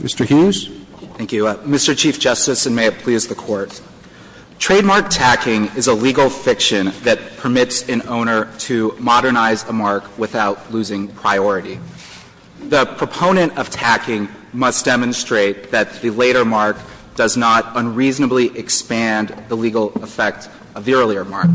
Mr. Hughes. Thank you. Mr. Chief Justice, and may it please the Court, trademark tacking is a legal fiction that permits an owner to modernize a mark without losing priority. The proponent of tacking must demonstrate that the later mark does not unreasonably expand the legal effect of the earlier mark.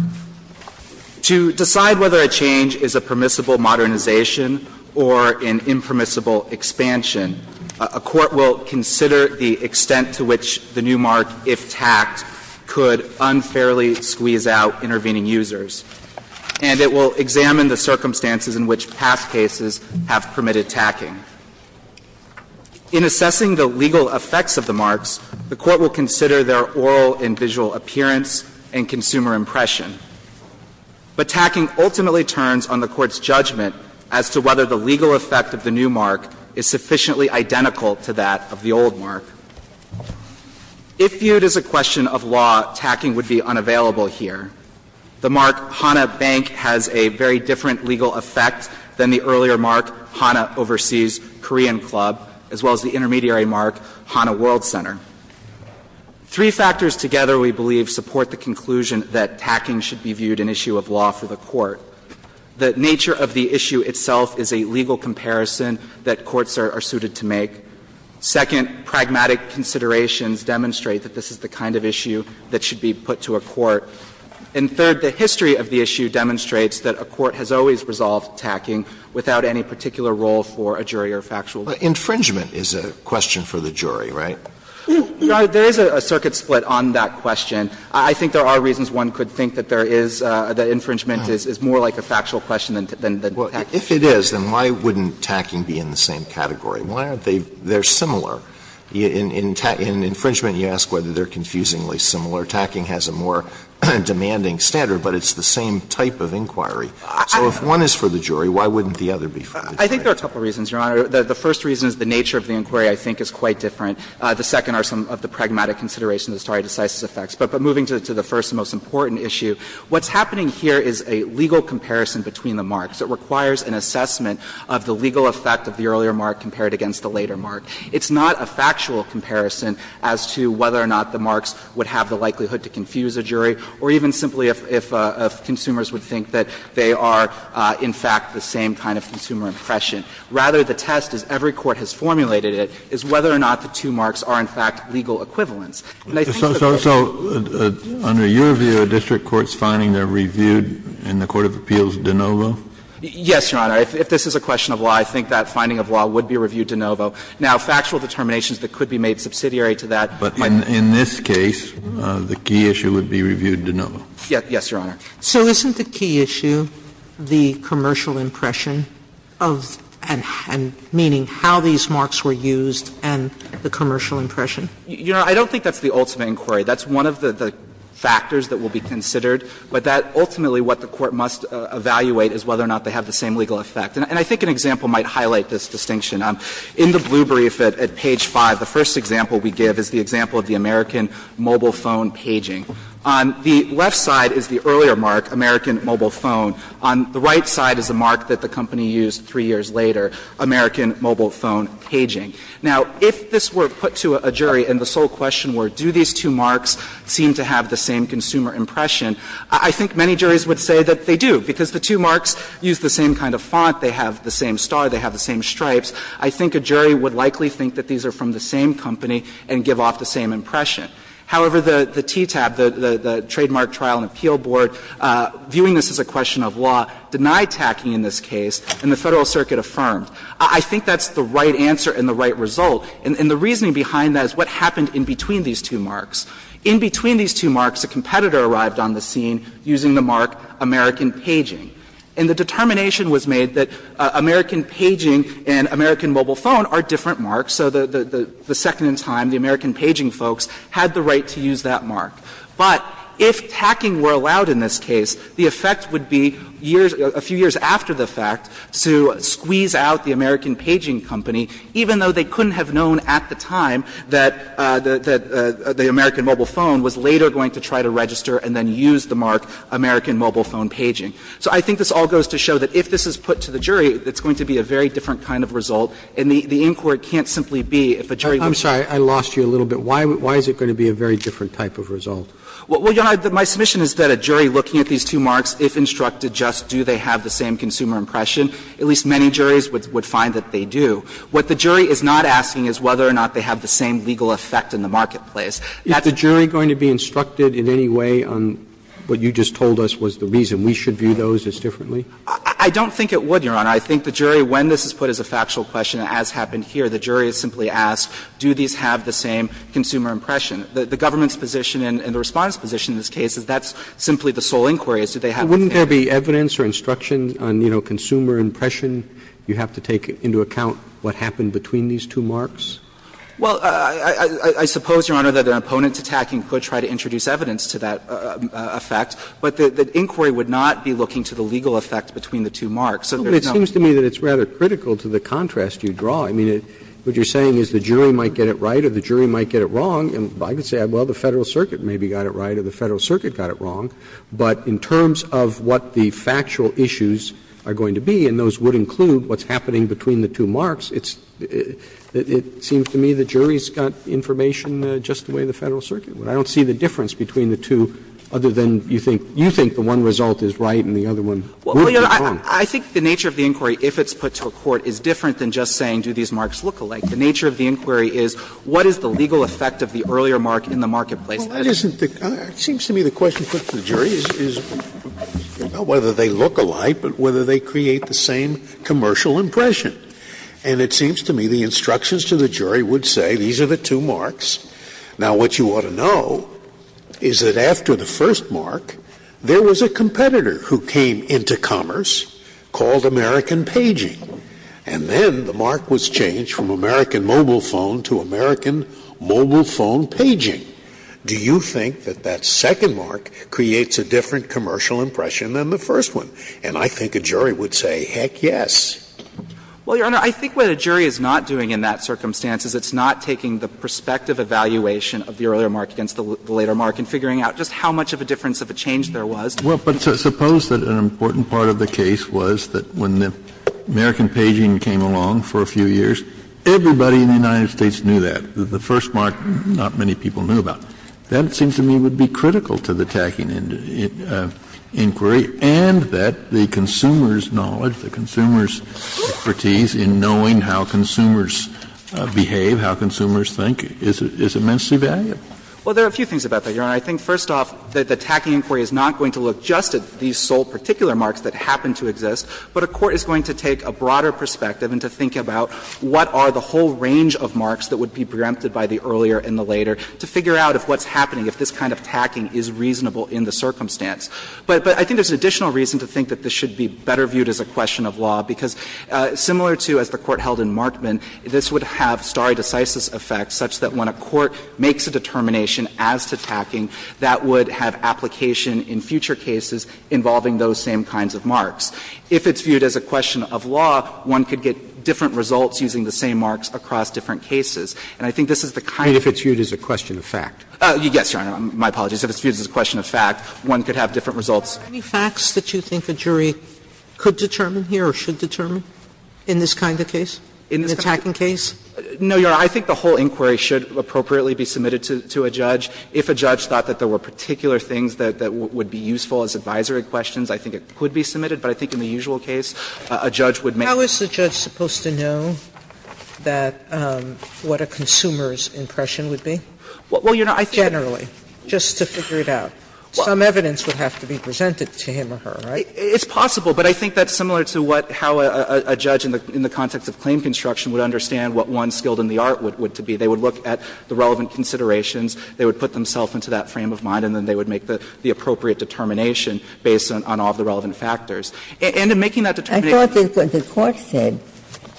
To decide whether a change is a permissible modernization or an impermissible expansion, a court will consider the extent to which the new mark, if tacked, could unfairly squeeze out intervening users, and it will examine the circumstances in which past cases have permitted tacking. In assessing the legal effects of the marks, the Court will consider their oral and But tacking ultimately turns on the Court's judgment as to whether the legal effect of the new mark is sufficiently identical to that of the old mark. If viewed as a question of law, tacking would be unavailable here. The mark, Hana Bank, has a very different legal effect than the earlier mark, Hana Overseas Korean Club, as well as the intermediary mark, Hana World Center. Three factors together, we believe, support the conclusion that tacking should be viewed an issue of law for the Court. The nature of the issue itself is a legal comparison that courts are suited to make. Second, pragmatic considerations demonstrate that this is the kind of issue that should be put to a court. And third, the history of the issue demonstrates that a court has always resolved Infringement is a question for the jury, right? There is a circuit split on that question. I think there are reasons one could think that there is the infringement is more like a factual question than tacking. If it is, then why wouldn't tacking be in the same category? Why aren't they similar? In infringement, you ask whether they are confusingly similar. Tacking has a more demanding standard, but it's the same type of inquiry. So if one is for the jury, why wouldn't the other be for the jury? I think there are a couple of reasons, Your Honor. The first reason is the nature of the inquiry I think is quite different. The second are some of the pragmatic considerations, the stare decisis effects. But moving to the first and most important issue, what's happening here is a legal comparison between the marks. It requires an assessment of the legal effect of the earlier mark compared against the later mark. It's not a factual comparison as to whether or not the marks would have the likelihood to confuse a jury or even simply if consumers would think that they are in fact the same kind of consumer impression. Rather, the test, as every court has formulated it, is whether or not the two marks are in fact legal equivalents. same kind of consumer impression. Kennedy. So under your view, a district court's finding, they are reviewed in the court of appeals de novo? Yes, Your Honor. If this is a question of law, I think that finding of law would be reviewed de novo. Now, factual determinations that could be made subsidiary to that might not be. But in this case, the key issue would be reviewed de novo. Yes, Your Honor. Sotomayor. So isn't the key issue the commercial impression of and meaning how these marks were used and the commercial impression? Your Honor, I don't think that's the ultimate inquiry. That's one of the factors that will be considered. But that ultimately what the court must evaluate is whether or not they have the same legal effect. And I think an example might highlight this distinction. In the blue brief at page 5, the first example we give is the example of the American mobile phone paging. On the left side is the earlier mark, American mobile phone. On the right side is the mark that the company used three years later, American mobile phone paging. Now, if this were put to a jury and the sole question were, do these two marks seem to have the same consumer impression, I think many juries would say that they do, because the two marks use the same kind of font, they have the same star, they have the same stripes. I think a jury would likely think that these are from the same company and give off the same impression. However, the TTAB, the Trademark Trial and Appeal Board, viewing this as a question of law, denied tacking in this case and the Federal Circuit affirmed. I think that's the right answer and the right result. And the reasoning behind that is what happened in between these two marks. In between these two marks, a competitor arrived on the scene using the mark American paging. And the determination was made that American paging and American mobile phone are different marks. So the second in time, the American paging folks had the right to use that mark. But if tacking were allowed in this case, the effect would be years, a few years after the fact, to squeeze out the American paging company, even though they couldn't have known at the time that the American mobile phone was later going to try to register and then use the mark American mobile phone paging. So I think this all goes to show that if this is put to the jury, it's going to be a very different kind of result. And the inquiry can't simply be if a jury looks at it. Roberts, I'm sorry, I lost you a little bit. Why is it going to be a very different type of result? Well, Your Honor, my submission is that a jury looking at these two marks, if instructed just do they have the same consumer impression, at least many juries would find that they do. What the jury is not asking is whether or not they have the same legal effect in the marketplace. Is the jury going to be instructed in any way on what you just told us was the reason we should view those as differently? I don't think it would, Your Honor. I think the jury, when this is put as a factual question, as happened here, the jury is simply asked, do these have the same consumer impression? The government's position and the Respondent's position in this case is that's simply the sole inquiry, is do they have the same? Wouldn't there be evidence or instruction on, you know, consumer impression? You have to take into account what happened between these two marks? Well, I suppose, Your Honor, that an opponent attacking could try to introduce evidence to that effect, but the inquiry would not be looking to the legal effect between the two marks. But it seems to me that it's rather critical to the contrast you draw. I mean, what you're saying is the jury might get it right or the jury might get it wrong, and I could say, well, the Federal Circuit maybe got it right or the Federal Circuit got it wrong. But in terms of what the factual issues are going to be, and those would include what's happening between the two marks, it's – it seems to me the jury's got information just the way the Federal Circuit would. I don't see the difference between the two other than you think the one result is right and the other one would be wrong. Well, Your Honor, I think the nature of the inquiry, if it's put to a court, is different than just saying, do these marks look alike? The nature of the inquiry is, what is the legal effect of the earlier mark in the marketplace? Well, that isn't the – it seems to me the question put to the jury is not whether they look alike, but whether they create the same commercial impression. And it seems to me the instructions to the jury would say these are the two marks. Now, what you ought to know is that after the first mark, there was a competitor who came into commerce, called American Paging, and then the mark was changed from American Mobile Phone to American Mobile Phone Paging. Do you think that that second mark creates a different commercial impression than the first one? And I think a jury would say, heck, yes. Well, Your Honor, I think what a jury is not doing in that circumstance is it's not taking the prospective evaluation of the earlier mark against the later mark and figuring out just how much of a difference of a change there was. Well, but suppose that an important part of the case was that when the American Paging came along for a few years, everybody in the United States knew that. The first mark, not many people knew about. That, it seems to me, would be critical to the tacking inquiry, and that the consumer's knowledge, the consumer's expertise in knowing how consumers behave, how consumers think, is immensely valuable. Well, there are a few things about that, Your Honor. I think, first off, that the tacking inquiry is not going to look just at these sole particular marks that happen to exist, but a court is going to take a broader perspective and to think about what are the whole range of marks that would be preempted by the earlier and the later to figure out if what's happening, if this kind of tacking is reasonable in the circumstance. But I think there's an additional reason to think that this should be better viewed as a question of law, because similar to as the Court held in Markman, this would have stare decisis effects such that when a court makes a determination as to tacking, that would have application in future cases involving those same kinds of marks. If it's viewed as a question of law, one could get different results using the same marks across different cases. And I think this is the kind of question of fact. Yes, Your Honor, my apologies. If it's viewed as a question of fact, one could have different results. Sotomayor, any facts that you think a jury could determine here or should determine in this kind of case, in the tacking case? No, Your Honor. I think the whole inquiry should appropriately be submitted to a judge. If a judge thought that there were particular things that would be useful as advisory questions, I think it could be submitted. But I think in the usual case, a judge would make a decision. How is the judge supposed to know that what a consumer's impression would be? Well, Your Honor, I think that's generally, just to figure it out. Some evidence would have to be presented to him or her, right? It's possible. But I think that's similar to how a judge in the context of claim construction would understand what one's skilled in the art would be. They would look at the relevant considerations. They would put themselves into that frame of mind, and then they would make the appropriate determination based on all of the relevant factors. And in making that determination to a judge, I think it would be helpful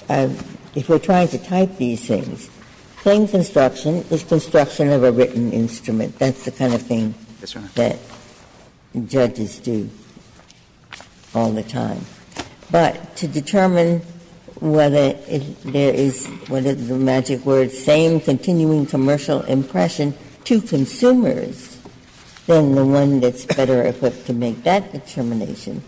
to have that information. I thought that what the Court said, if we're trying to type these things, claim construction is construction of a written instrument. That's the kind of thing that judges do all the time. But to determine whether there is, what is the magic word, same continuing commercial impression to consumers, then the one that's better equipped to make that determination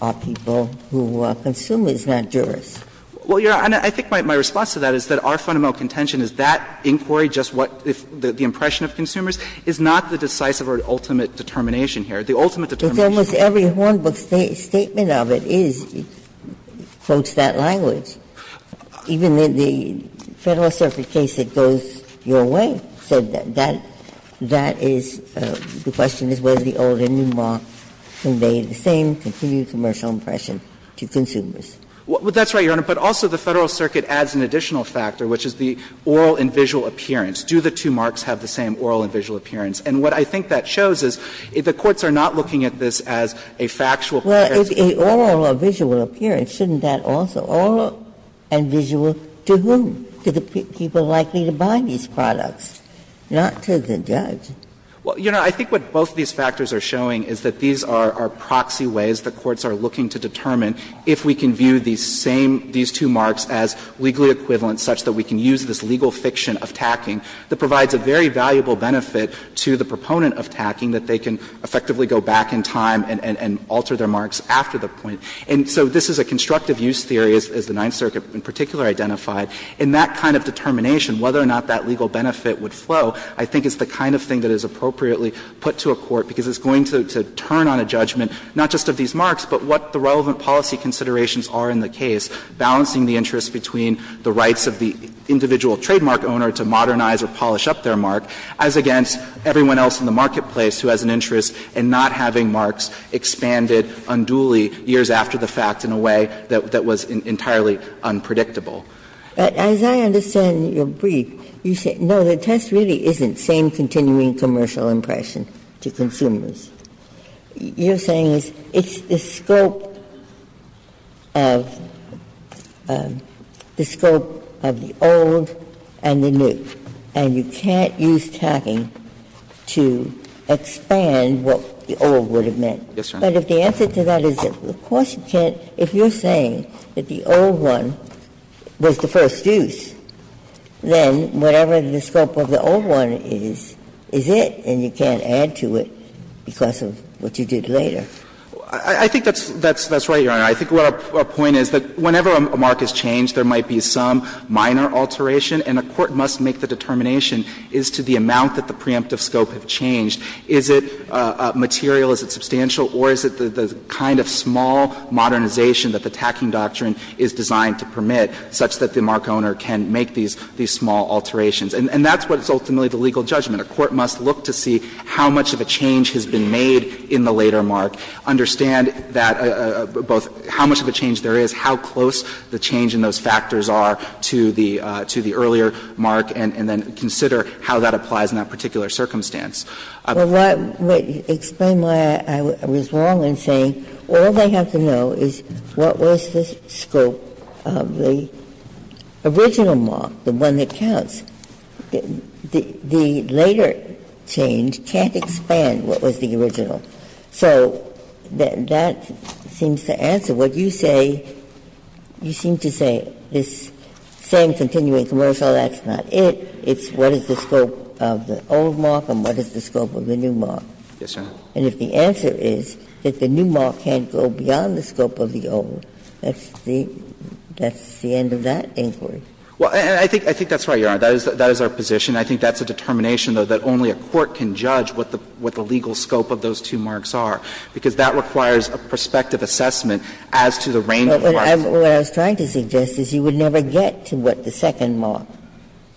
are people who are consumers, not jurors. Well, Your Honor, I think my response to that is that our fundamental contention is that inquiry, just what the impression of consumers, is not the decisive or ultimate determination here. The ultimate determination. But almost every Hornbook statement of it is, quotes that language. Even in the Federal Circuit case, it goes your way. So that is, the question is whether the old and new mark convey the same continuing commercial impression to consumers. Well, that's right, Your Honor. But also the Federal Circuit adds an additional factor, which is the oral and visual appearance. Do the two marks have the same oral and visual appearance? And what I think that shows is, the courts are not looking at this as a factual comparison. Well, if oral or visual appearance, shouldn't that also, oral and visual, to whom? To the people likely to buy these products, not to the judge. Well, Your Honor, I think what both of these factors are showing is that these are proxy ways the courts are looking to determine if we can view these same, these two marks as legally equivalent such that we can use this legal fiction of tacking that provides a very valuable benefit to the proponent of tacking, that they can effectively go back in time and alter their marks after the point. And so this is a constructive use theory, as the Ninth Circuit in particular identified. And that kind of determination, whether or not that legal benefit would flow, I think is the kind of thing that is appropriately put to a court, because it's going to turn on a judgment, not just of these marks, but what the relevant policy considerations are in the case, balancing the interest between the rights of the individual trademark owner to modernize or polish up their mark, as against everyone else in the marketplace who has an interest in not having marks expanded unduly years after the fact in a way that was entirely unpredictable. Ginsburg. But as I understand your brief, you say, no, the test really isn't same continuing commercial impression to consumers. You're saying it's the scope of the old and the new, and you can't use tacking to expand what the old would have meant. Yes, Your Honor. But if the answer to that is of course you can't, if you're saying that the old one was the first use, then whatever the scope of the old one is, is it, and you can't expand to it because of what you did later. I think that's right, Your Honor. I think what our point is that whenever a mark is changed, there might be some minor alteration, and a court must make the determination as to the amount that the preemptive scope has changed. Is it material, is it substantial, or is it the kind of small modernization that the tacking doctrine is designed to permit, such that the mark owner can make these small alterations? And that's what is ultimately the legal judgment. A court must look to see how much of a change has been made in the later mark, understand that both how much of a change there is, how close the change in those factors are to the earlier mark, and then consider how that applies in that particular circumstance. Ginsburg. Well, explain why I was wrong in saying all they have to know is what was the scope of the original mark, the one that counts. The later change can't expand what was the original. So that seems to answer what you say. You seem to say this same continuing commercial, that's not it. It's what is the scope of the old mark and what is the scope of the new mark. And if the answer is that the new mark can't go beyond the scope of the old, that's the end of that inquiry. Well, I think that's right, Your Honor. That is our position. I think that's a determination, though, that only a court can judge what the legal scope of those two marks are, because that requires a prospective assessment as to the range of marks. But what I was trying to suggest is you would never get to what the second mark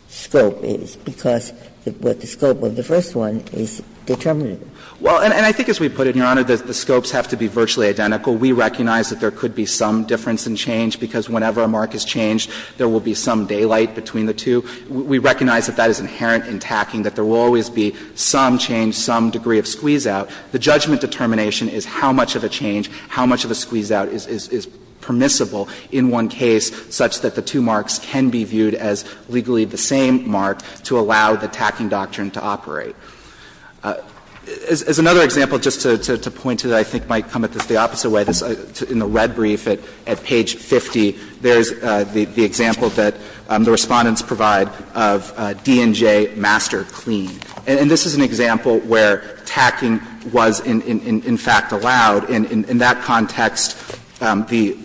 scope is, because what the scope of the first one is determinative. Well, and I think as we put it, Your Honor, the scopes have to be virtually identical. We recognize that there could be some difference in change, because whenever a mark is changed, there will be some daylight between the two. We recognize that that is inherent in tacking, that there will always be some change, some degree of squeeze-out. The judgment determination is how much of a change, how much of a squeeze-out is permissible in one case such that the two marks can be viewed as legally the same mark to allow the tacking doctrine to operate. As another example, just to point to that, I think might come at this the opposite way, in the red brief at page 50, there is the example that the Respondents provide of D&J Master Clean. And this is an example where tacking was in fact allowed. In that context, the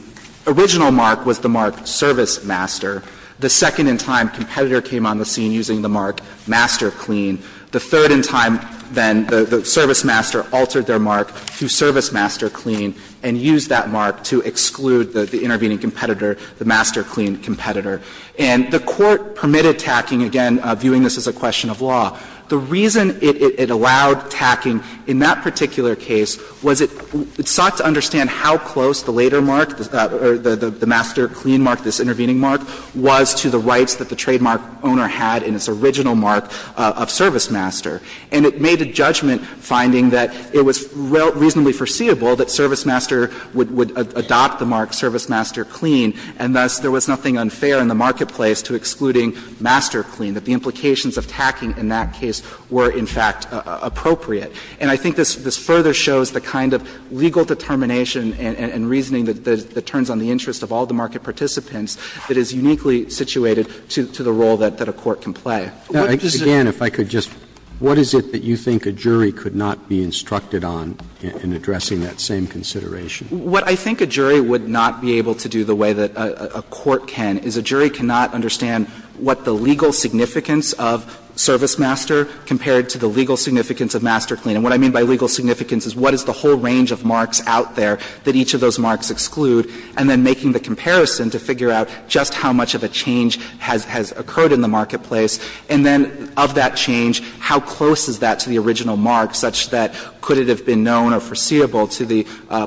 original mark was the mark Service Master. The second in time, competitor came on the scene using the mark Master Clean. The third in time, then, the Service Master altered their mark to Service Master Clean and used that mark to exclude the intervening competitor, the Master Clean competitor. And the Court permitted tacking, again, viewing this as a question of law. The reason it allowed tacking in that particular case was it sought to understand how close the later mark, the Master Clean mark, this intervening mark, was to the rights that the trademark owner had in its original mark of Service Master. And it made a judgment finding that it was reasonably foreseeable that Service Master would adopt the mark Service Master Clean, and thus there was nothing unfair in the marketplace to excluding Master Clean, that the implications of tacking in that case were in fact appropriate. And I think this further shows the kind of legal determination and reasoning that turns on the interest of all the market participants that is uniquely situated to the role that a court can play. Now, again, if I could just, what is it that you think a jury could not be instructed on in addressing that same consideration? What I think a jury would not be able to do the way that a court can is a jury cannot understand what the legal significance of Service Master compared to the legal significance of Master Clean. And what I mean by legal significance is what is the whole range of marks out there that each of those marks exclude, and then making the comparison to figure out just how much of a change has occurred in the marketplace, and then of that change, how close is that to the original mark such that could it have been known or foreseeable to the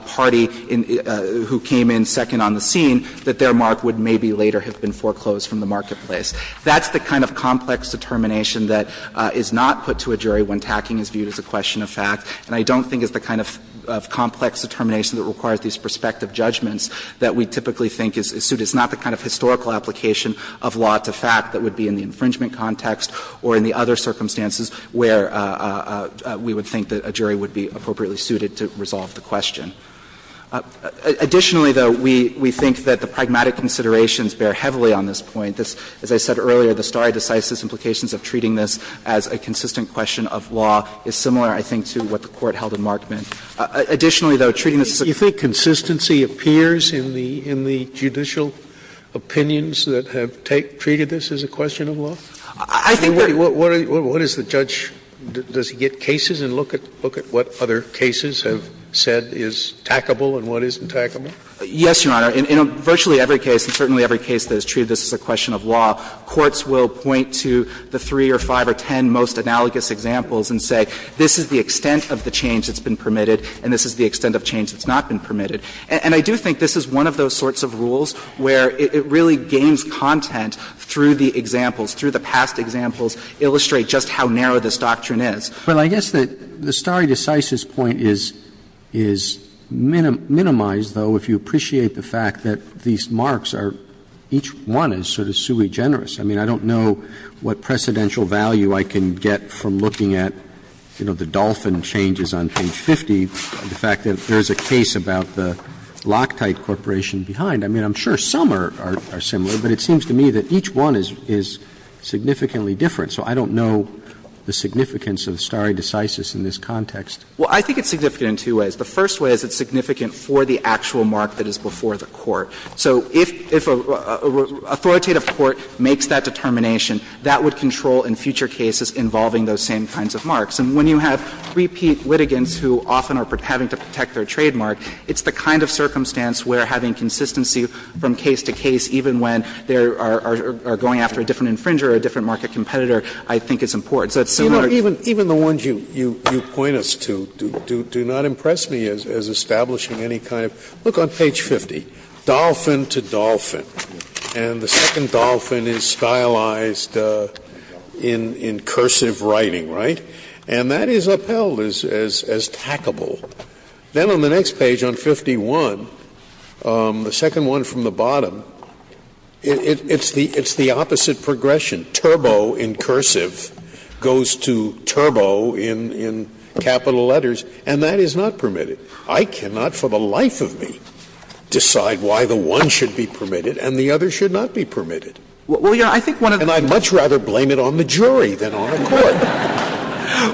party who came in second on the scene that their mark would maybe later have been foreclosed from the marketplace. That's the kind of complex determination that is not put to a jury when tacking is viewed as a question of fact, and I don't think it's the kind of complex determination that requires these prospective judgments that we typically think is suited. It's not the kind of historical application of law to fact that would be in the infringement context or in the other circumstances where we would think that a jury would be appropriately suited to resolve the question. Additionally, though, we think that the pragmatic considerations bear heavily on this point. As I said earlier, the stare decisis implications of treating this as a consistent question of law is similar, I think, to what the Court held in Markman. Additionally, though, treating this as a Scalia, do you think consistency appears in the judicial opinions that have treated this as a question of law? What is the judge – does he get cases and look at what other cases have said is tackable and what isn't tackable? Yes, Your Honor. In virtually every case, and certainly every case that has treated this as a question of law, courts will point to the three or five or ten most analogous examples and say this is the extent of the change that's been permitted and this is the extent of change that's not been permitted. And I do think this is one of those sorts of rules where it really gains content through the examples, through the past examples, illustrate just how narrow this doctrine is. Well, I guess that the stare decisis point is – is minimized, though, if you appreciate the fact that these marks are – each one is sort of sui generis. I mean, I don't know what precedential value I can get from looking at, you know, the dolphin changes on page 50, the fact that there is a case about the Loctite Corporation behind. I mean, I'm sure some are similar, but it seems to me that each one is significantly different. So I don't know the significance of stare decisis in this context. Well, I think it's significant in two ways. The first way is it's significant for the actual mark that is before the court. So if a authoritative court makes that determination, that would control in future cases involving those same kinds of marks. And when you have repeat litigants who often are having to protect their trademark, it's the kind of circumstance where having consistency from case to case, even when they are going after a different infringer or a different market competitor, I think is important. So it's similar. Scalia, even the ones you point us to, do not impress me as establishing any kind of – look on page 50, dolphin to dolphin. And the second dolphin is stylized in cursive writing, right? And that is upheld as tackable. Then on the next page, on 51, the second one from the bottom, it's the opposite progression. Turbo in cursive goes to Turbo in capital letters, and that is not permitted. I cannot for the life of me decide why the one should be permitted and the other should not be permitted. And I'd much rather blame it on the jury than on a court.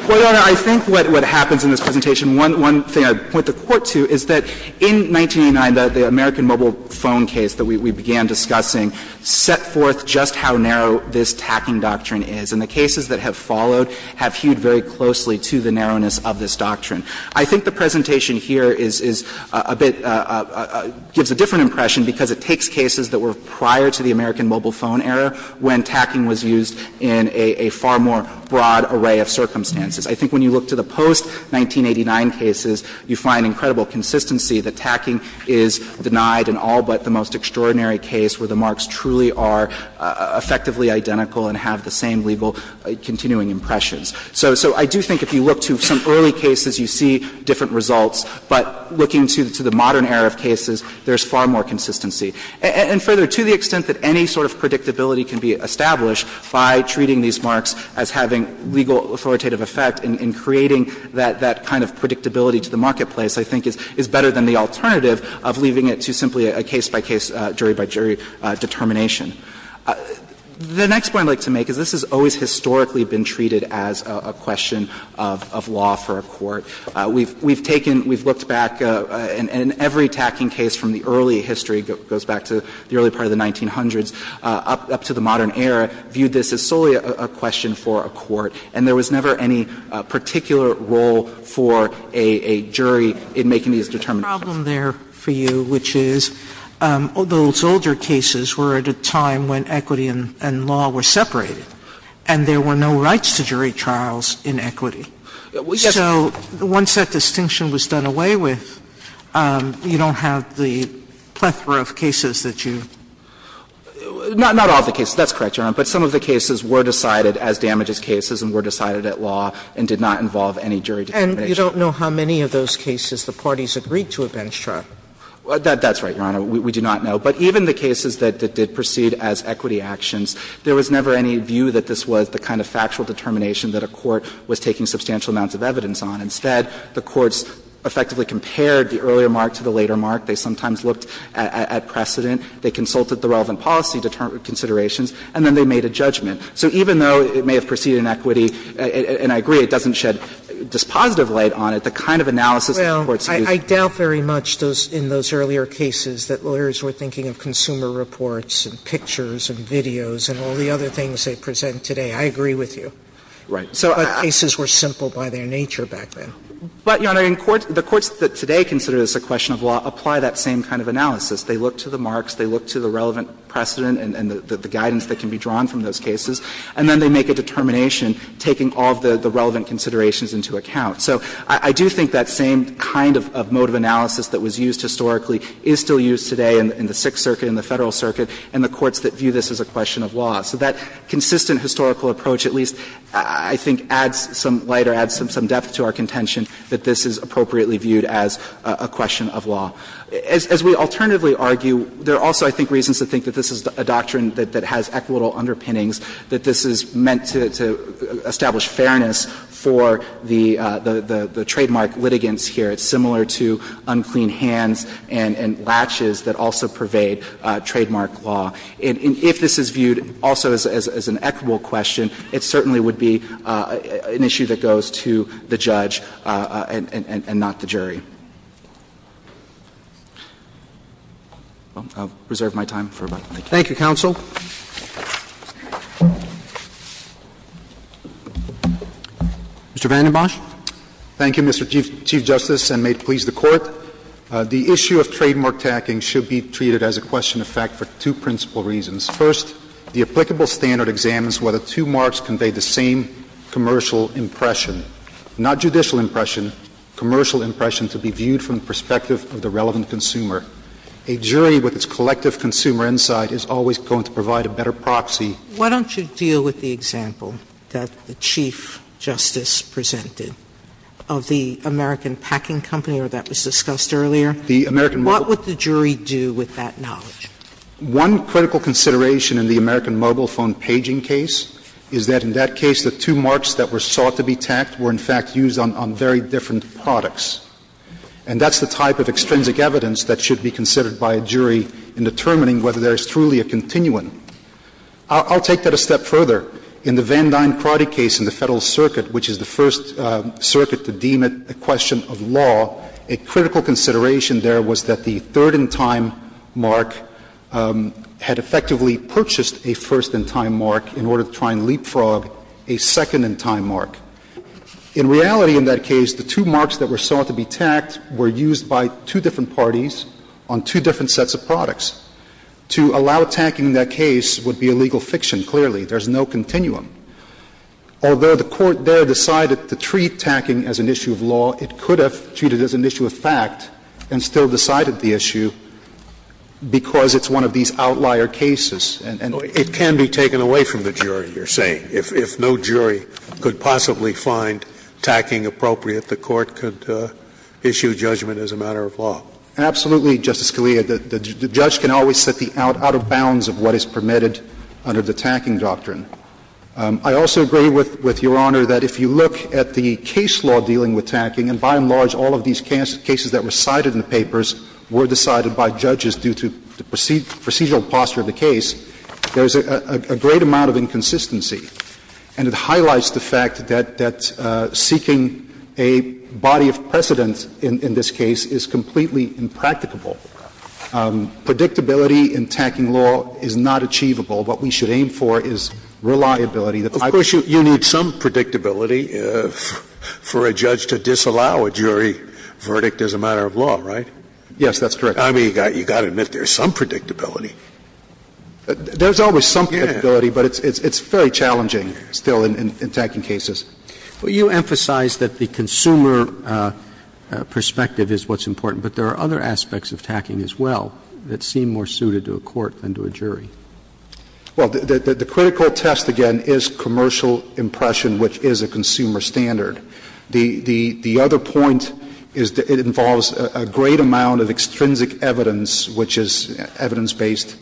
Well, Your Honor, I think what happens in this presentation, one thing I'd point the Court to is that in 1989, the American mobile phone case that we began discussing set forth just how narrow this tacking doctrine is. And the cases that have followed have hewed very closely to the narrowness of this doctrine. I think the presentation here is a bit – gives a different impression because it takes cases that were prior to the American mobile phone era when tacking was used in a far more broad array of circumstances. I think when you look to the post-1989 cases, you find incredible consistency that tacking is denied in all but the most extraordinary case where the marks truly are effectively identical and have the same legal continuing impressions. So I do think if you look to some early cases, you see different results. But looking to the modern era of cases, there's far more consistency. And further, to the extent that any sort of predictability can be established by treating these marks as having legal authoritative effect and creating that kind of predictability to the marketplace, I think is better than the alternative of leaving it to simply a case-by-case, jury-by-jury determination. The next point I'd like to make is this has always historically been treated as a question of law for a court. We've taken – we've looked back, and every tacking case from the early history goes back to the early part of the 1900s up to the modern era, viewed this as solely a question for a court. And there was never any particular role for a jury in making these determinations. Sotomayor, which is, those older cases were at a time when equity and law were separated, and there were no rights to jury trials in equity. So once that distinction was done away with, you don't have the plethora of questions that you would have to deal with in a jury trial. And so there was never any view that this was the kind of factual determination that a court was taking substantial amounts of evidence on. Instead, the courts effectively compared the earlier mark to the later mark. that a court was taking substantial amounts of evidence on. And so in a jury trial, they looked at the precedent, they consulted the relevant policy considerations, and then they made a judgment. So even though it may have preceded an equity, and I agree it doesn't shed dispositive light on it, the kind of analysis the courts used was not. Sotomayor, I doubt very much in those earlier cases that lawyers were thinking of consumer reports and pictures and videos and all the other things they present I agree with you. Right. So I don't think it was that simple by their nature back then. But, Your Honor, the courts that today consider this a question of law apply that same kind of analysis. They look to the marks, they look to the relevant precedent and the guidance that can be drawn from those cases, and then they make a determination taking all of the relevant considerations into account. So I do think that same kind of mode of analysis that was used historically is still used today in the Sixth Circuit, in the Federal Circuit, and the courts that view this as a question of law. So that consistent historical approach at least, I think, adds some light or adds some depth to our contention that this is appropriately viewed as a question of law. As we alternatively argue, there are also, I think, reasons to think that this is a doctrine that has equitable underpinnings, that this is meant to establish fairness for the trademark litigants here. It's similar to unclean hands and latches that also pervade trademark law. And if this is viewed also as an equitable question, it certainly would be an issue that goes to the judge and not the jury. I'll reserve my time for a moment. Thank you. Roberts. Thank you, counsel. Mr. VandenBosch. Thank you, Mr. Chief Justice, and may it please the Court. The issue of trademark tacking should be treated as a question of fact for two principal reasons. First, the applicable standard examines whether two marks convey the same commercial impression. Not judicial impression, commercial impression to be viewed from the perspective of the relevant consumer. A jury with its collective consumer insight is always going to provide a better proxy. Sotomayor, why don't you deal with the example that the Chief Justice presented of the American Packing Company, or that was discussed earlier? What would the jury do with that knowledge? One critical consideration in the American Mobile Phone paging case is that in that case, the marks that were thought to be tacked were, in fact, used on very different products. And that's the type of extrinsic evidence that should be considered by a jury in determining whether there is truly a continuum. I'll take that a step further. In the Van Dine-Crotty case in the Federal Circuit, which is the first circuit to deem it a question of law, a critical consideration there was that the third-in-time mark had effectively purchased a first-in-time mark in order to try and leapfrog a second-in-time mark. In reality, in that case, the two marks that were thought to be tacked were used by two different parties on two different sets of products. To allow tacking in that case would be a legal fiction, clearly. There's no continuum. Although the Court there decided to treat tacking as an issue of law, it could have treated it as an issue of fact and still decided the issue because it's one of these outlier cases. And so it can be taken away from the jury, you're saying, if no jury could possibly find tacking appropriate, the Court could issue judgment as a matter of law. Absolutely, Justice Scalia. The judge can always set the out of bounds of what is permitted under the tacking doctrine. I also agree with Your Honor that if you look at the case law dealing with tacking, and by and large all of these cases that were cited in the papers were decided by judges due to the procedural posture of the case, there's a great amount of inconsistency. And it highlights the fact that seeking a body of precedent in this case is completely impracticable. Predictability in tacking law is not achievable. What we should aim for is reliability. Of course, you need some predictability for a judge to disallow a jury verdict as a matter of law, right? Yes, that's correct. I mean, you've got to admit there's some predictability. There's always some predictability, but it's very challenging still in tacking cases. But you emphasize that the consumer perspective is what's important. But there are other aspects of tacking as well that seem more suited to a court than to a jury. Well, the critical test, again, is commercial impression, which is a consumer standard. The other point is it involves a great amount of extrinsic evidence, which is evidence based,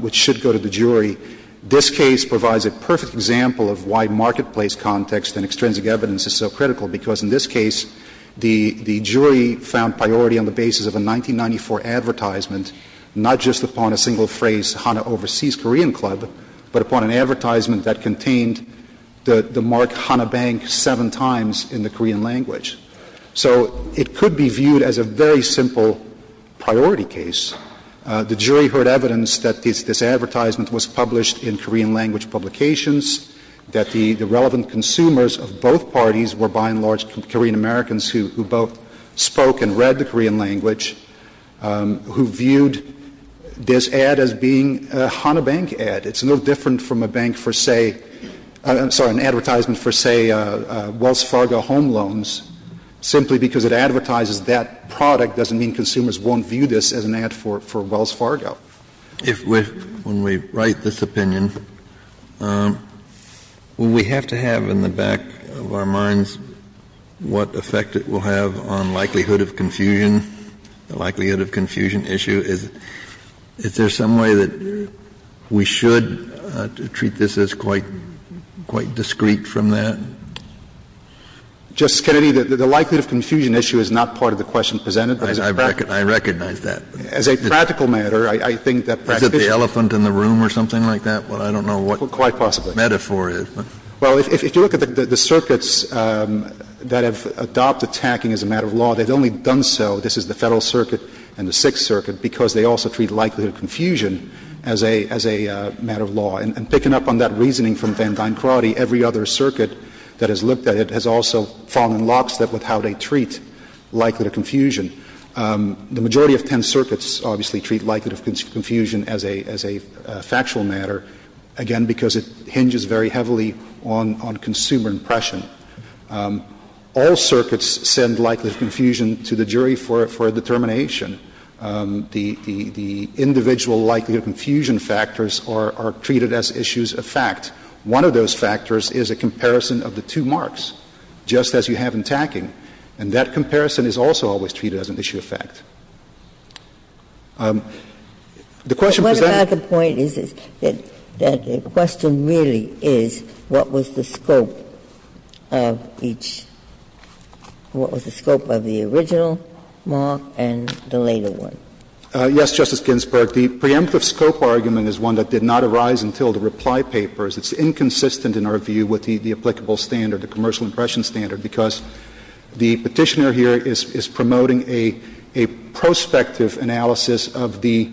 which should go to the jury. This case provides a perfect example of why marketplace context and extrinsic evidence is so critical, because in this case, the jury found priority on the basis of a 1994 advertisement, not just upon a single phrase, HANA Overseas Korean Club, but upon an advertisement that contained the mark HANA Bank seven times in the Korean language. So it could be viewed as a very simple priority case. The jury heard evidence that this advertisement was published in Korean language publications, that the relevant consumers of both parties were, by and large, Korean Americans who both spoke and read the Korean language, who viewed this ad as being a HANA Bank ad. It's no different from a bank for, say — I'm sorry, an advertisement for, say, Wells Fargo Home Loans, simply because it advertises that product doesn't mean consumers won't view this as an ad for Wells Fargo. Kennedy, if we — when we write this opinion, will we have to have in the back of our minds what effect it will have on likelihood of confusion, the likelihood of confusion issue? Is there some way that we should treat this as quite — quite discreet from that? Justice Kennedy, the likelihood of confusion issue is not part of the question presented. I recognize that. As a practical matter, I think that practitioners— Is it the elephant in the room or something like that? Well, I don't know what— Quite possibly. —the metaphor is, but— Well, if you look at the circuits that have adopted tacking as a matter of law, they've only done so, this is the Federal Circuit and the Sixth Circuit, because they also treat likelihood of confusion as a — as a matter of law. And picking up on that reasoning from Van Duyn-Crotty, every other circuit that has looked at it has also fallen in lockstep with how they treat likelihood of confusion. The majority of ten circuits obviously treat likelihood of confusion as a — as a factual matter, again, because it hinges very heavily on — on consumer impression. All circuits send likelihood of confusion to the jury for a determination. The — the individual likelihood of confusion factors are treated as issues of fact. One of those factors is a comparison of the two marks, just as you have in tacking, and that comparison is also always treated as an issue of fact. The question presented— But what about the point is that the question really is what was the scope? Of each — what was the scope of the original mark and the later one? Yes, Justice Ginsburg, the preemptive scope argument is one that did not arise until the reply papers. It's inconsistent in our view with the applicable standard, the commercial impression standard, because the Petitioner here is promoting a prospective analysis of the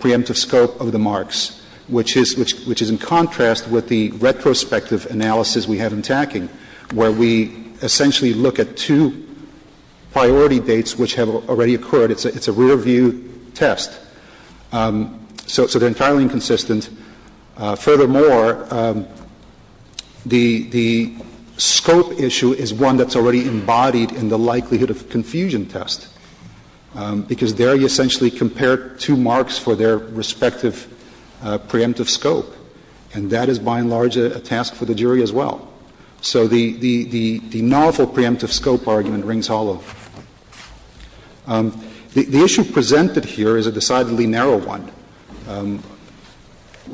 preemptive scope of the marks, which is — which is in contrast with the retrospective analysis we have in tacking, where we essentially look at two priority dates which have already occurred. It's a — it's a rear-view test, so — so they're entirely inconsistent. Furthermore, the — the scope issue is one that's already embodied in the likelihood of confusion test, because there you essentially compare two marks for their respective preemptive scope, and that is, by and large, a task for the jury as well. So the — the novel preemptive scope argument rings hollow. The issue presented here is a decidedly narrow one.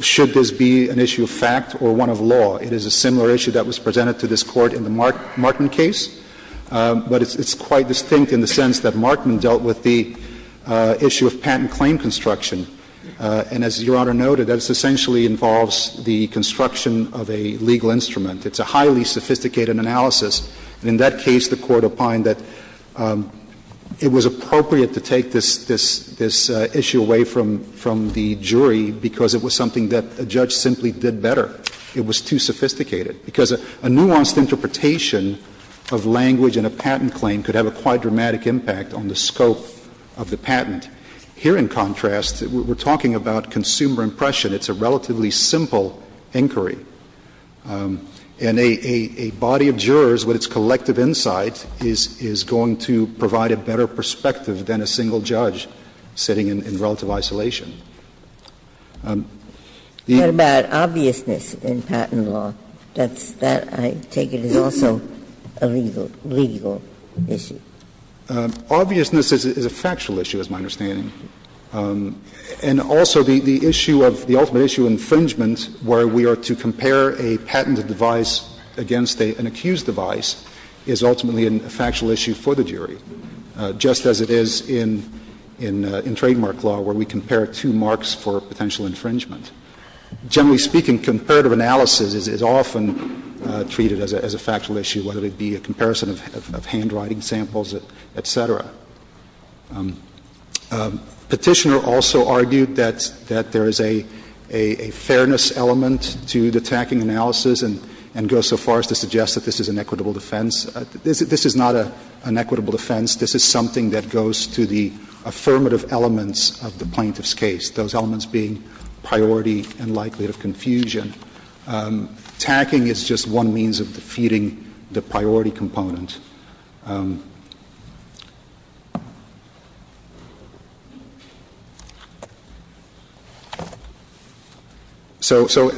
Should this be an issue of fact or one of law? It is a similar issue that was presented to this Court in the Markman case, but it's quite distinct in the sense that Markman dealt with the issue of patent claim construction. And as Your Honor noted, that essentially involves the construction of a legal instrument. It's a highly sophisticated analysis. And in that case, the Court opined that it was appropriate to take this — this issue away from — from the jury because it was something that a judge simply did better. It was too sophisticated, because a nuanced interpretation of language in a patent claim could have a quite dramatic impact on the scope of the patent. Here, in contrast, we're talking about consumer impression. It's a relatively simple inquiry. And a body of jurors, with its collective insight, is going to provide a better perspective than a single judge sitting in relative isolation. The — What about obviousness in patent law? That's — that, I take it, is also a legal — legal issue. Obviousness is a factual issue, is my understanding. And also, the issue of — the ultimate issue of infringement, where we are to compare a patented device against an accused device, is ultimately a factual issue for the jury, just as it is in — in trademark law, where we compare two marks for potential infringement. Generally speaking, comparative analysis is often treated as a factual issue, whether it be a comparison of handwriting samples, et cetera. Petitioner also argued that — that there is a — a fairness element to the tacking analysis, and goes so far as to suggest that this is an equitable defense. This is not an equitable defense. This is something that goes to the affirmative elements of the plaintiff's case, those elements being priority and likelihood of confusion. Tacking is just one means of defeating the priority component. So — so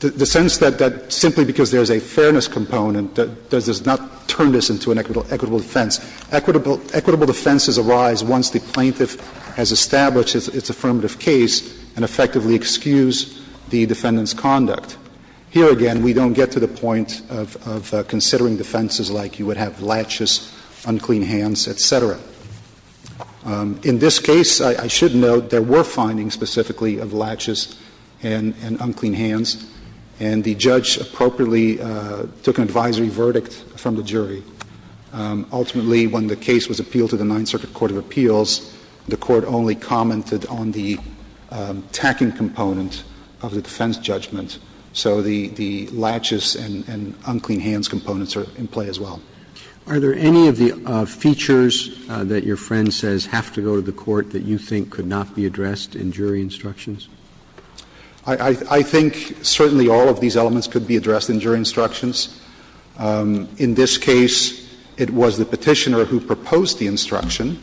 the sense that simply because there is a fairness component, that does not turn this into an equitable defense. Equitable defenses arise once the plaintiff has established its affirmative case and effectively excused the defendant's conduct. Here again, we don't get to the point of — of considering defenses like you would have laches, unclean hands, et cetera. In this case, I should note, there were findings specifically of laches and — and unclean hands, and the judge appropriately took an advisory verdict from the jury. Ultimately, when the case was appealed to the Ninth Circuit Court of Appeals, the judge took the tacking component of the defense judgment, so the — the laches and unclean hands components are in play as well. Are there any of the features that your friend says have to go to the court that you think could not be addressed in jury instructions? I — I think certainly all of these elements could be addressed in jury instructions. In this case, it was the Petitioner who proposed the instruction.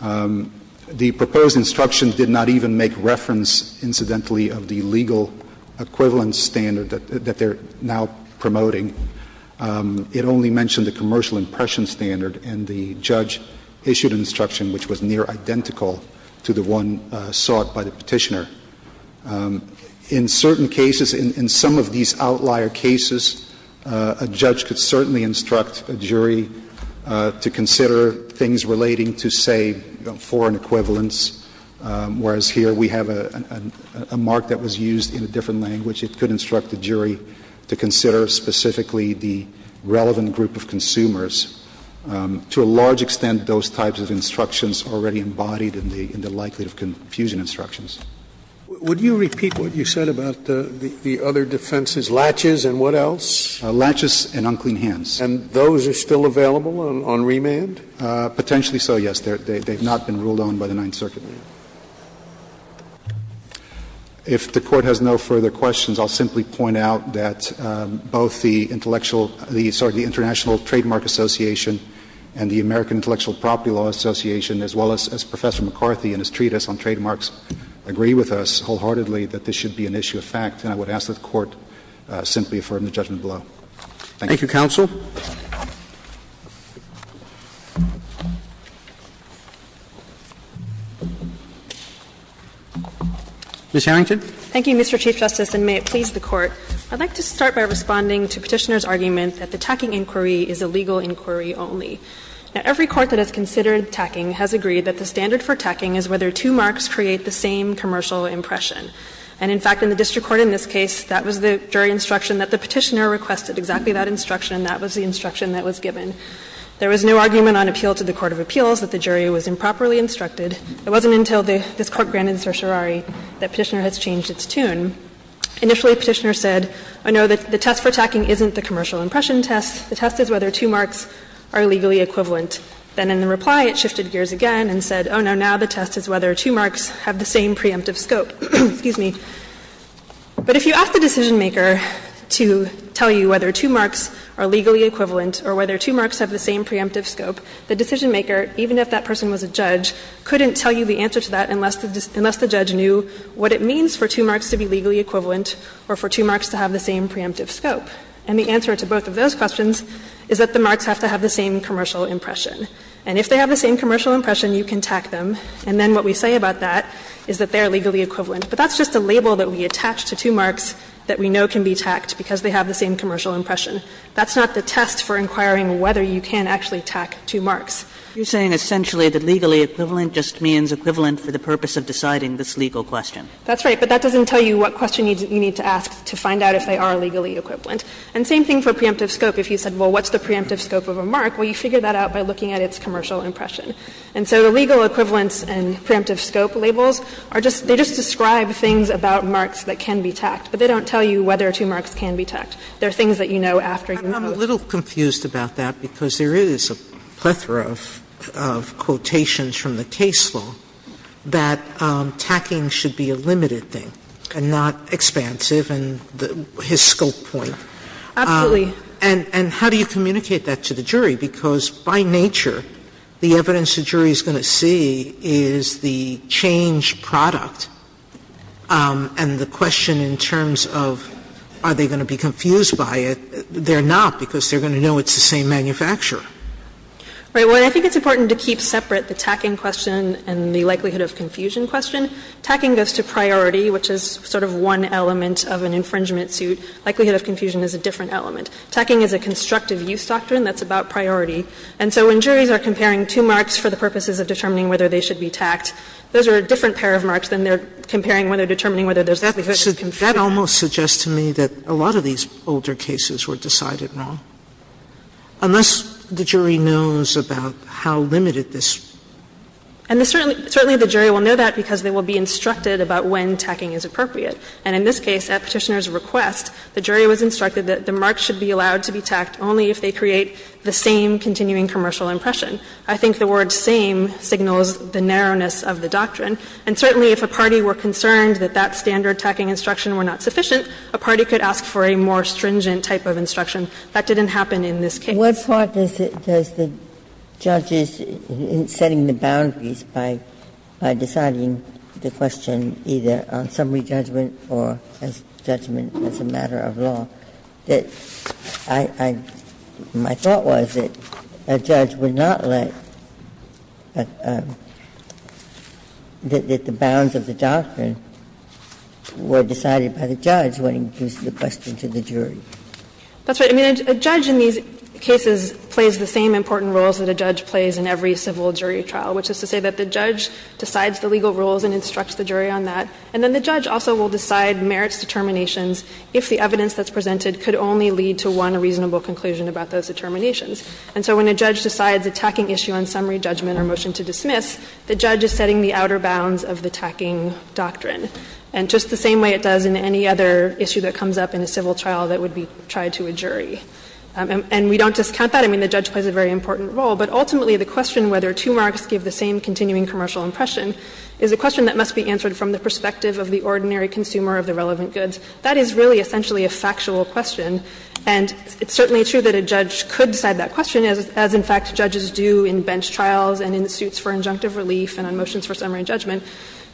The proposed instruction did not even make reference, incidentally, of the legal equivalent standard that — that they're now promoting. It only mentioned the commercial impression standard, and the judge issued an instruction which was near identical to the one sought by the Petitioner. In certain cases, in — in some of these outlier cases, a judge could certainly instruct a jury to consider things relating to, say, foreign equivalents, whereas here we have a mark that was used in a different language. It could instruct the jury to consider specifically the relevant group of consumers. To a large extent, those types of instructions are already embodied in the — in the likelihood of confusion instructions. Would you repeat what you said about the other defenses, laches and what else? Laches and unclean hands. And those are still available on — on remand? Potentially so, yes. They've not been ruled on by the Ninth Circuit. If the Court has no further questions, I'll simply point out that both the intellectual — the, sorry, the International Trademark Association and the American Intellectual Property Law Association, as well as Professor McCarthy and his treatise on trademarks, agree with us wholeheartedly that this should be an issue of fact. Thank you. Thank you, counsel. Ms. Harrington. Thank you, Mr. Chief Justice, and may it please the Court. I'd like to start by responding to Petitioner's argument that the tacking inquiry is a legal inquiry only. Now, every court that has considered tacking has agreed that the standard for tacking is whether two marks create the same commercial impression. And in fact, in the district court in this case, that was the jury instruction that the Petitioner requested, exactly that instruction. That was the instruction that was given. There was no argument on appeal to the court of appeals that the jury was improperly instructed. It wasn't until this Court granted certiorari that Petitioner has changed its tune. Initially, Petitioner said, oh, no, the test for tacking isn't the commercial impression test. The test is whether two marks are legally equivalent. Then in the reply, it shifted gears again and said, oh, no, now the test is whether two marks have the same preemptive scope. Excuse me. But if you ask the decisionmaker to tell you whether two marks are legally equivalent or whether two marks have the same preemptive scope, the decisionmaker, even if that person was a judge, couldn't tell you the answer to that unless the judge knew what it means for two marks to be legally equivalent or for two marks to have the same preemptive scope. And the answer to both of those questions is that the marks have to have the same commercial impression. And if they have the same commercial impression, you can tack them, and then what we say about that is that they are legally equivalent. But that's just a label that we attach to two marks that we know can be tacked because they have the same commercial impression. That's not the test for inquiring whether you can actually tack two marks. Kagan You're saying essentially that legally equivalent just means equivalent for the purpose of deciding this legal question. That's right. But that doesn't tell you what question you need to ask to find out if they are legally equivalent. And same thing for preemptive scope. If you said, well, what's the preemptive scope of a mark, well, you figure that out by looking at its commercial impression. And so the legal equivalence and preemptive scope labels are just they just describe things about marks that can be tacked, but they don't tell you whether two marks can be tacked. They are things that you know after you have posed them. Sotomayor I'm a little confused about that because there is a plethora of quotations from the case law that tacking should be a limited thing and not expansive and his scope point. Absolutely. Sotomayor And how do you communicate that to the jury? Because by nature, the evidence the jury is going to see is the change product and the question in terms of are they going to be confused by it, they are not because they are going to know it's the same manufacturer. Right. Well, I think it's important to keep separate the tacking question and the likelihood of confusion question. Tacking goes to priority, which is sort of one element of an infringement suit. Likelihood of confusion is a different element. Tacking is a constructive use doctrine that's about priority. And so when juries are comparing two marks for the purposes of determining whether they should be tacked, those are a different pair of marks than they are comparing when they are determining whether there is likelihood of confusion. Sotomayor That almost suggests to me that a lot of these older cases were decided wrong, unless the jury knows about how limited this is. And certainly the jury will know that because they will be instructed about when tacking is appropriate. And in this case, at Petitioner's request, the jury was instructed that the marks should be allowed to be tacked only if they create the same continuing commercial impression. I think the word same signals the narrowness of the doctrine. And certainly if a party were concerned that that standard tacking instruction were not sufficient, a party could ask for a more stringent type of instruction. That didn't happen in this case. Ginsburg What part does the judge's setting the boundaries by deciding the question either on summary judgment or as judgment as a matter of law, that I, I, my thought was that a judge would not let that the bounds of the doctrine were decided by the judge when he gives the question to the jury? Saharsky That's right. I mean, a judge in these cases plays the same important roles that a judge plays in every civil jury trial, which is to say that the judge decides the legal rules and instructs the jury on that, and then the judge also will decide merits determinations if the evidence that's presented could only lead to one reasonable conclusion about those determinations. And so when a judge decides a tacking issue on summary judgment or motion to dismiss, the judge is setting the outer bounds of the tacking doctrine, and just the same way it does in any other issue that comes up in a civil trial that would be tried to a jury. And we don't discount that. I mean, the judge plays a very important role. But ultimately, the question whether two marks give the same continuing commercial impression is a question that must be answered from the perspective of the ordinary consumer of the relevant goods. That is really essentially a factual question, and it's certainly true that a judge could decide that question, as in fact judges do in bench trials and in suits for injunctive relief and on motions for summary judgment.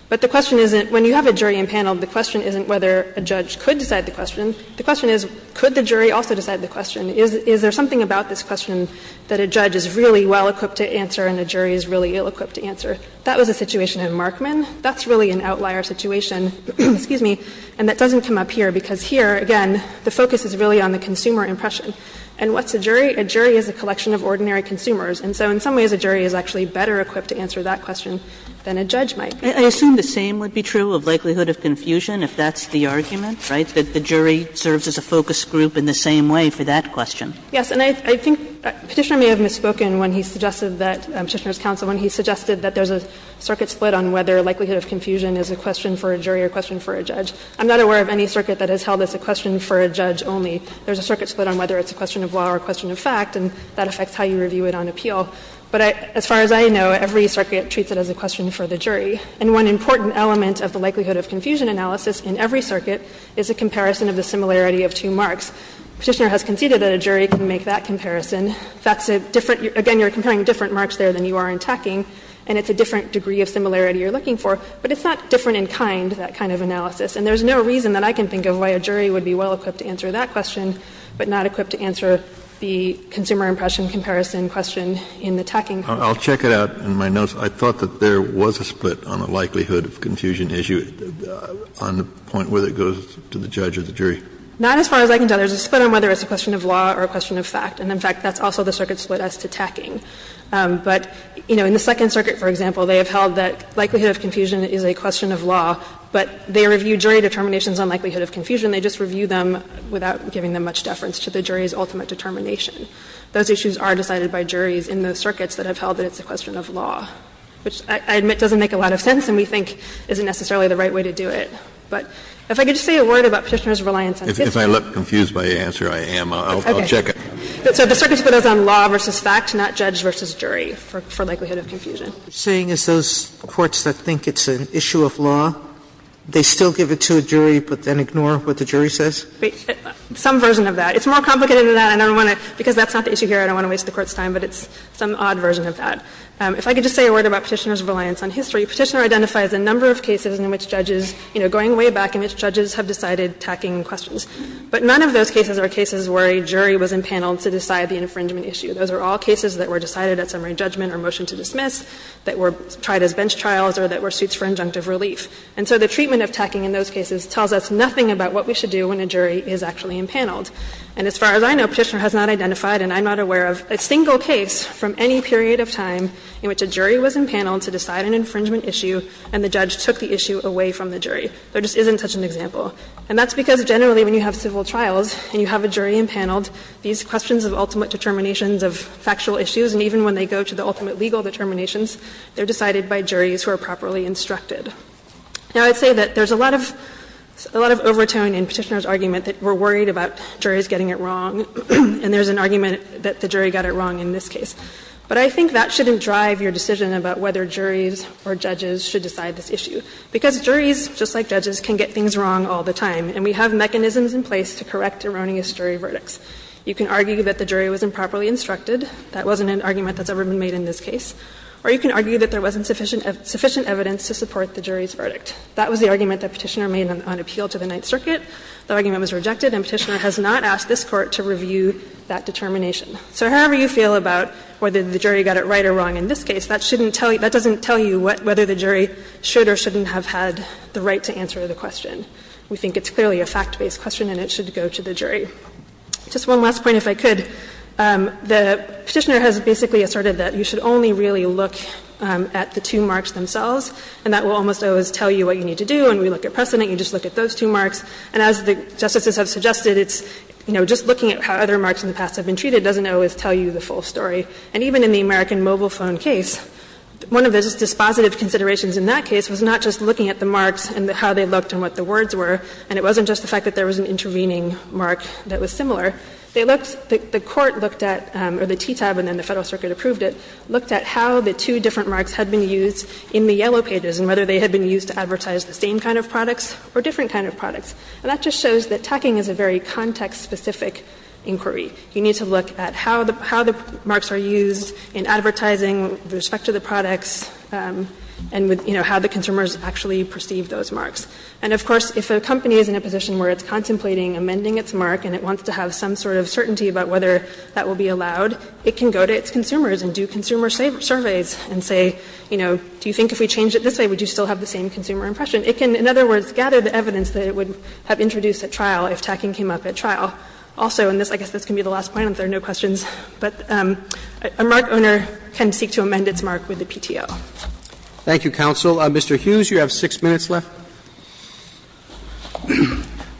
But the question isn't, when you have a jury in panel, the question isn't whether a judge could decide the question. The question is, could the jury also decide the question? Is there something about this question that a judge is really well equipped to answer and a jury is really ill equipped to answer? That was a situation in Markman. That's really an outlier situation, excuse me, and that doesn't come up here, because here, again, the focus is really on the consumer impression. And what's a jury? A jury is a collection of ordinary consumers. And so in some ways, a jury is actually better equipped to answer that question than a judge might be. Kagan I assume the same would be true of likelihood of confusion, if that's the argument, right, that the jury serves as a focus group in the same way for that question. Harrington Yes. And I think Petitioner may have misspoken when he suggested that, Petitioner's a circuit split on whether likelihood of confusion is a question for a jury or a question for a judge. I'm not aware of any circuit that is held as a question for a judge only. There's a circuit split on whether it's a question of law or a question of fact, and that affects how you review it on appeal. But as far as I know, every circuit treats it as a question for the jury. And one important element of the likelihood of confusion analysis in every circuit is a comparison of the similarity of two marks. Petitioner has conceded that a jury can make that comparison. That's a different – again, you're comparing different marks there than you are in this case, so it's a different degree of similarity you're looking for, but it's not different in kind, that kind of analysis. And there's no reason that I can think of why a jury would be well-equipped to answer that question, but not equipped to answer the consumer impression comparison question in the tacking case. Kennedy I'll check it out in my notes. I thought that there was a split on the likelihood of confusion issue on the point whether it goes to the judge or the jury. Harrington Not as far as I can tell. There's a split on whether it's a question of law or a question of fact. And, in fact, that's also the circuit split as to tacking. But, you know, in the Second Circuit, for example, they have held that likelihood of confusion is a question of law, but they review jury determinations on likelihood of confusion. They just review them without giving them much deference to the jury's ultimate determination. Those issues are decided by juries in the circuits that have held that it's a question of law, which I admit doesn't make a lot of sense and we think isn't necessarily the right way to do it. But if I could just say a word about Petitioner's reliance on history. Kennedy If I look confused by the answer, I am. I'll check it. Harrington So the circuit split is on law versus fact, not judge versus jury, for likelihood of confusion. Sotomayor What you're saying is those courts that think it's an issue of law, they still give it to a jury, but then ignore what the jury says? Harrington Some version of that. It's more complicated than that, and I don't want to – because that's not the issue here. I don't want to waste the Court's time, but it's some odd version of that. If I could just say a word about Petitioner's reliance on history. Petitioner identifies a number of cases in which judges, you know, going way back in which judges have decided tacking questions. But none of those cases are cases where a jury was impaneled to decide the infringement issue. Those are all cases that were decided at summary judgment or motion to dismiss, that were tried as bench trials, or that were suits for injunctive relief. And so the treatment of tacking in those cases tells us nothing about what we should do when a jury is actually impaneled. And as far as I know, Petitioner has not identified, and I'm not aware of, a single case from any period of time in which a jury was impaneled to decide an infringement issue, and the judge took the issue away from the jury. There just isn't such an example. And that's because generally when you have civil trials and you have a jury impaneled, these questions of ultimate determinations of factual issues, and even when they go to the ultimate legal determinations, they're decided by juries who are properly instructed. Now, I'd say that there's a lot of overtone in Petitioner's argument that we're worried about juries getting it wrong, and there's an argument that the jury got it wrong in this case. But I think that shouldn't drive your decision about whether juries or judges should decide this issue. Because juries, just like judges, can get things wrong all the time, and we have mechanisms in place to correct erroneous jury verdicts. You can argue that the jury was improperly instructed. That wasn't an argument that's ever been made in this case. Or you can argue that there wasn't sufficient evidence to support the jury's verdict. That was the argument that Petitioner made on appeal to the Ninth Circuit. The argument was rejected, and Petitioner has not asked this Court to review that determination. So however you feel about whether the jury got it right or wrong in this case, that shouldn't tell you – that doesn't tell you whether the jury should or shouldn't have had the right to answer the question. We think it's clearly a fact-based question, and it should go to the jury. Just one last point, if I could. The Petitioner has basically asserted that you should only really look at the two marks themselves, and that will almost always tell you what you need to do. And we look at precedent, you just look at those two marks. And as the Justices have suggested, it's, you know, just looking at how other marks in the past have been treated doesn't always tell you the full story. And even in the American mobile phone case, one of the dispositive considerations in that case was not just looking at the marks and how they looked and what the words were, and it wasn't just the fact that there was an intervening mark that was similar. They looked – the Court looked at – or the TTAB and then the Federal Circuit approved it – looked at how the two different marks had been used in the yellow pages and whether they had been used to advertise the same kind of products or different kind of products. And that just shows that tacking is a very context-specific inquiry. You need to look at how the – how the marks are used in advertising with respect to the products and with, you know, how the consumers actually perceive those marks. And of course, if a company is in a position where it's contemplating amending its mark and it wants to have some sort of certainty about whether that will be allowed, it can go to its consumers and do consumer surveys and say, you know, do you think if we changed it this way, would you still have the same consumer impression? It can, in other words, gather the evidence that it would have introduced at trial if tacking came up at trial. Also, and this – I guess this can be the last point, if there are no questions, but a mark owner can seek to amend its mark with the PTO. Roberts. Thank you, counsel. Mr. Hughes, you have six minutes left.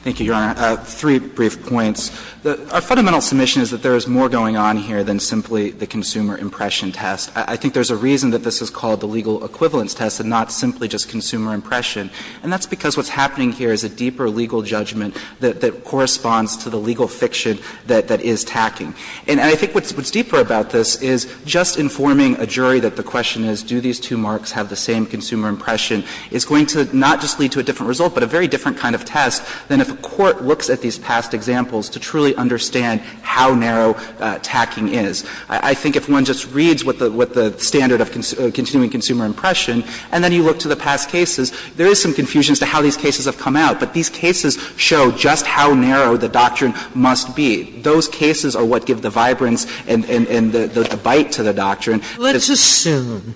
Thank you, Your Honor. Three brief points. Our fundamental submission is that there is more going on here than simply the consumer impression test. I think there's a reason that this is called the legal equivalence test and not simply just consumer impression, and that's because what's happening here is a deeper legal judgment that corresponds to the legal fiction that is tacking. And I think what's deeper about this is just informing a jury that the question is, do these two marks have the same consumer impression, is going to not just lead to a different result, but a very different kind of test than if a court looks at these past examples to truly understand how narrow tacking is. I think if one just reads what the standard of continuing consumer impression, and then you look to the past cases, there is some confusion as to how these cases have come out, but these cases show just how narrow the doctrine must be. Those cases are what give the vibrance and the bite to the doctrine. Sotomayor, let's assume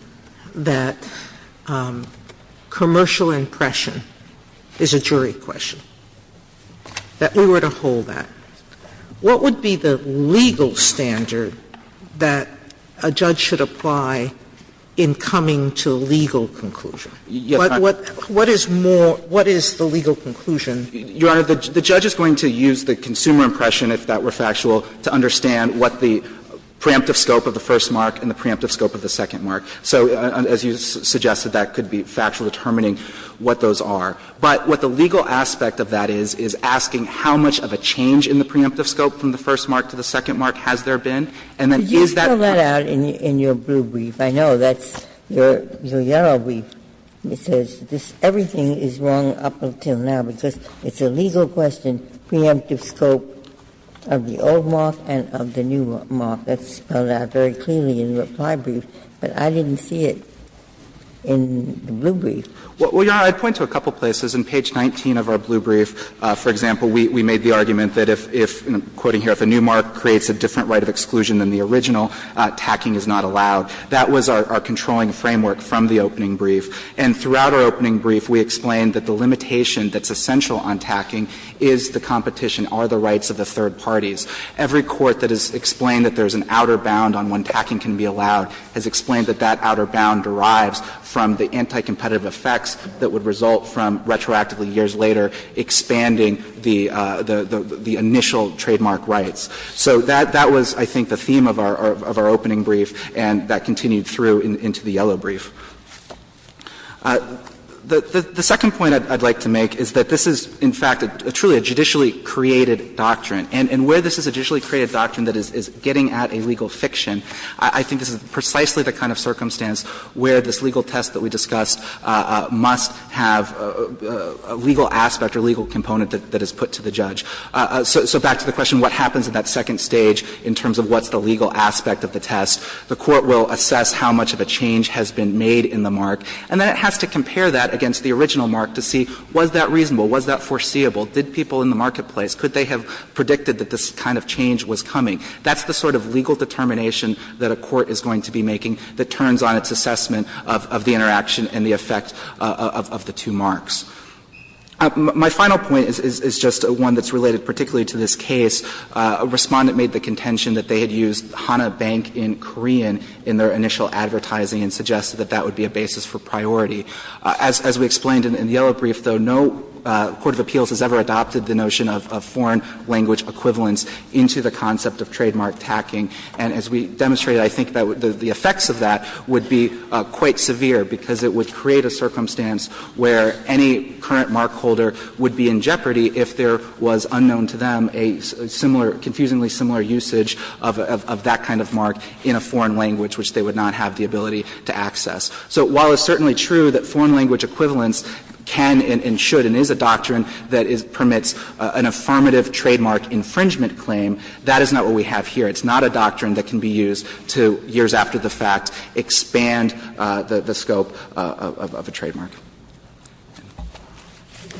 that commercial impression is a jury question, that we were to hold that. What would be the legal standard that a judge should apply in coming to legal conclusion? What is more – what is the legal conclusion? Your Honor, the judge is going to use the consumer impression, if that were factual, to understand what the preemptive scope of the first mark and the preemptive scope of the second mark. So as you suggested, that could be factual determining what those are. But what the legal aspect of that is, is asking how much of a change in the preemptive scope from the first mark to the second mark has there been, and then is that question – Ginsburg, in your blue brief, I know that's your yellow brief, it says this – everything is wrong up until now, because it's a legal question, preemptive scope of the old mark and of the new mark. That's spelled out very clearly in the reply brief, but I didn't see it in the blue brief. Well, Your Honor, I'd point to a couple of places. In page 19 of our blue brief, for example, we made the argument that if – and I'm quoting here – if a new mark creates a different right of exclusion than the original, tacking is not allowed. That was our controlling framework from the opening brief. And throughout our opening brief, we explained that the limitation that's essential on tacking is the competition, are the rights of the third parties. Every court that has explained that there's an outer bound on when tacking can be allowed has explained that that outer bound derives from the anti-competitive effects that would result from, retroactively, years later, expanding the initial trademark rights. So that was, I think, the theme of our opening brief, and that continued through into the yellow brief. The second point I'd like to make is that this is, in fact, truly a judicially created doctrine. And where this is a judicially created doctrine that is getting at a legal fiction, I think this is precisely the kind of circumstance where this legal test that we discussed must have a legal aspect or legal component that is put to the judge. So back to the question, what happens in that second stage in terms of what's the legal aspect of the test? The court will assess how much of a change has been made in the mark, and then it has to compare that against the original mark to see, was that reasonable, was that foreseeable, did people in the marketplace, could they have predicted that this kind of change was coming? That's the sort of legal determination that a court is going to be making that turns on its assessment of the interaction and the effect of the two marks. My final point is just one that's related particularly to this case. A Respondent made the contention that they had used Hana Bank in Korean in their initial advertising and suggested that that would be a basis for priority. As we explained in the yellow brief, though, no court of appeals has ever adopted the notion of foreign language equivalence into the concept of trademark tacking. And as we demonstrated, I think that the effects of that would be quite severe, because it would create a circumstance where any current markholder would be in jeopardy if there was unknown to them a similar, confusingly similar usage of that kind of mark in a foreign language which they would not have the ability to access. So while it's certainly true that foreign language equivalence can and should and is a doctrine that permits an affirmative trademark infringement claim, that is not what we have here. It's not a doctrine that can be used to, years after the fact, expand the scope of a trademark.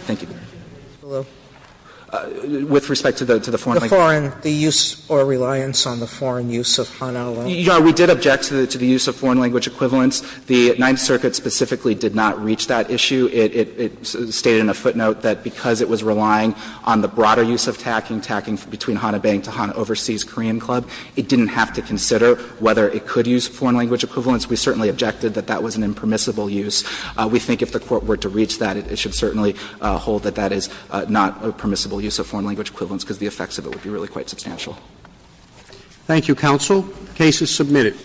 Thank you. With respect to the foreign language. Sotomayor The foreign, the use or reliance on the foreign use of Hana alone. We did object to the use of foreign language equivalence. The Ninth Circuit specifically did not reach that issue. It stated in a footnote that because it was relying on the broader use of tacking, tacking between Hana Bank to Hana Overseas Korean Club, it didn't have to consider whether it could use foreign language equivalence. We certainly objected that that was an impermissible use. We think if the Court were to reach that, it should certainly hold that that is not a permissible use of foreign language equivalence, because the effects of it would be really quite substantial. Thank you, counsel. The case is submitted.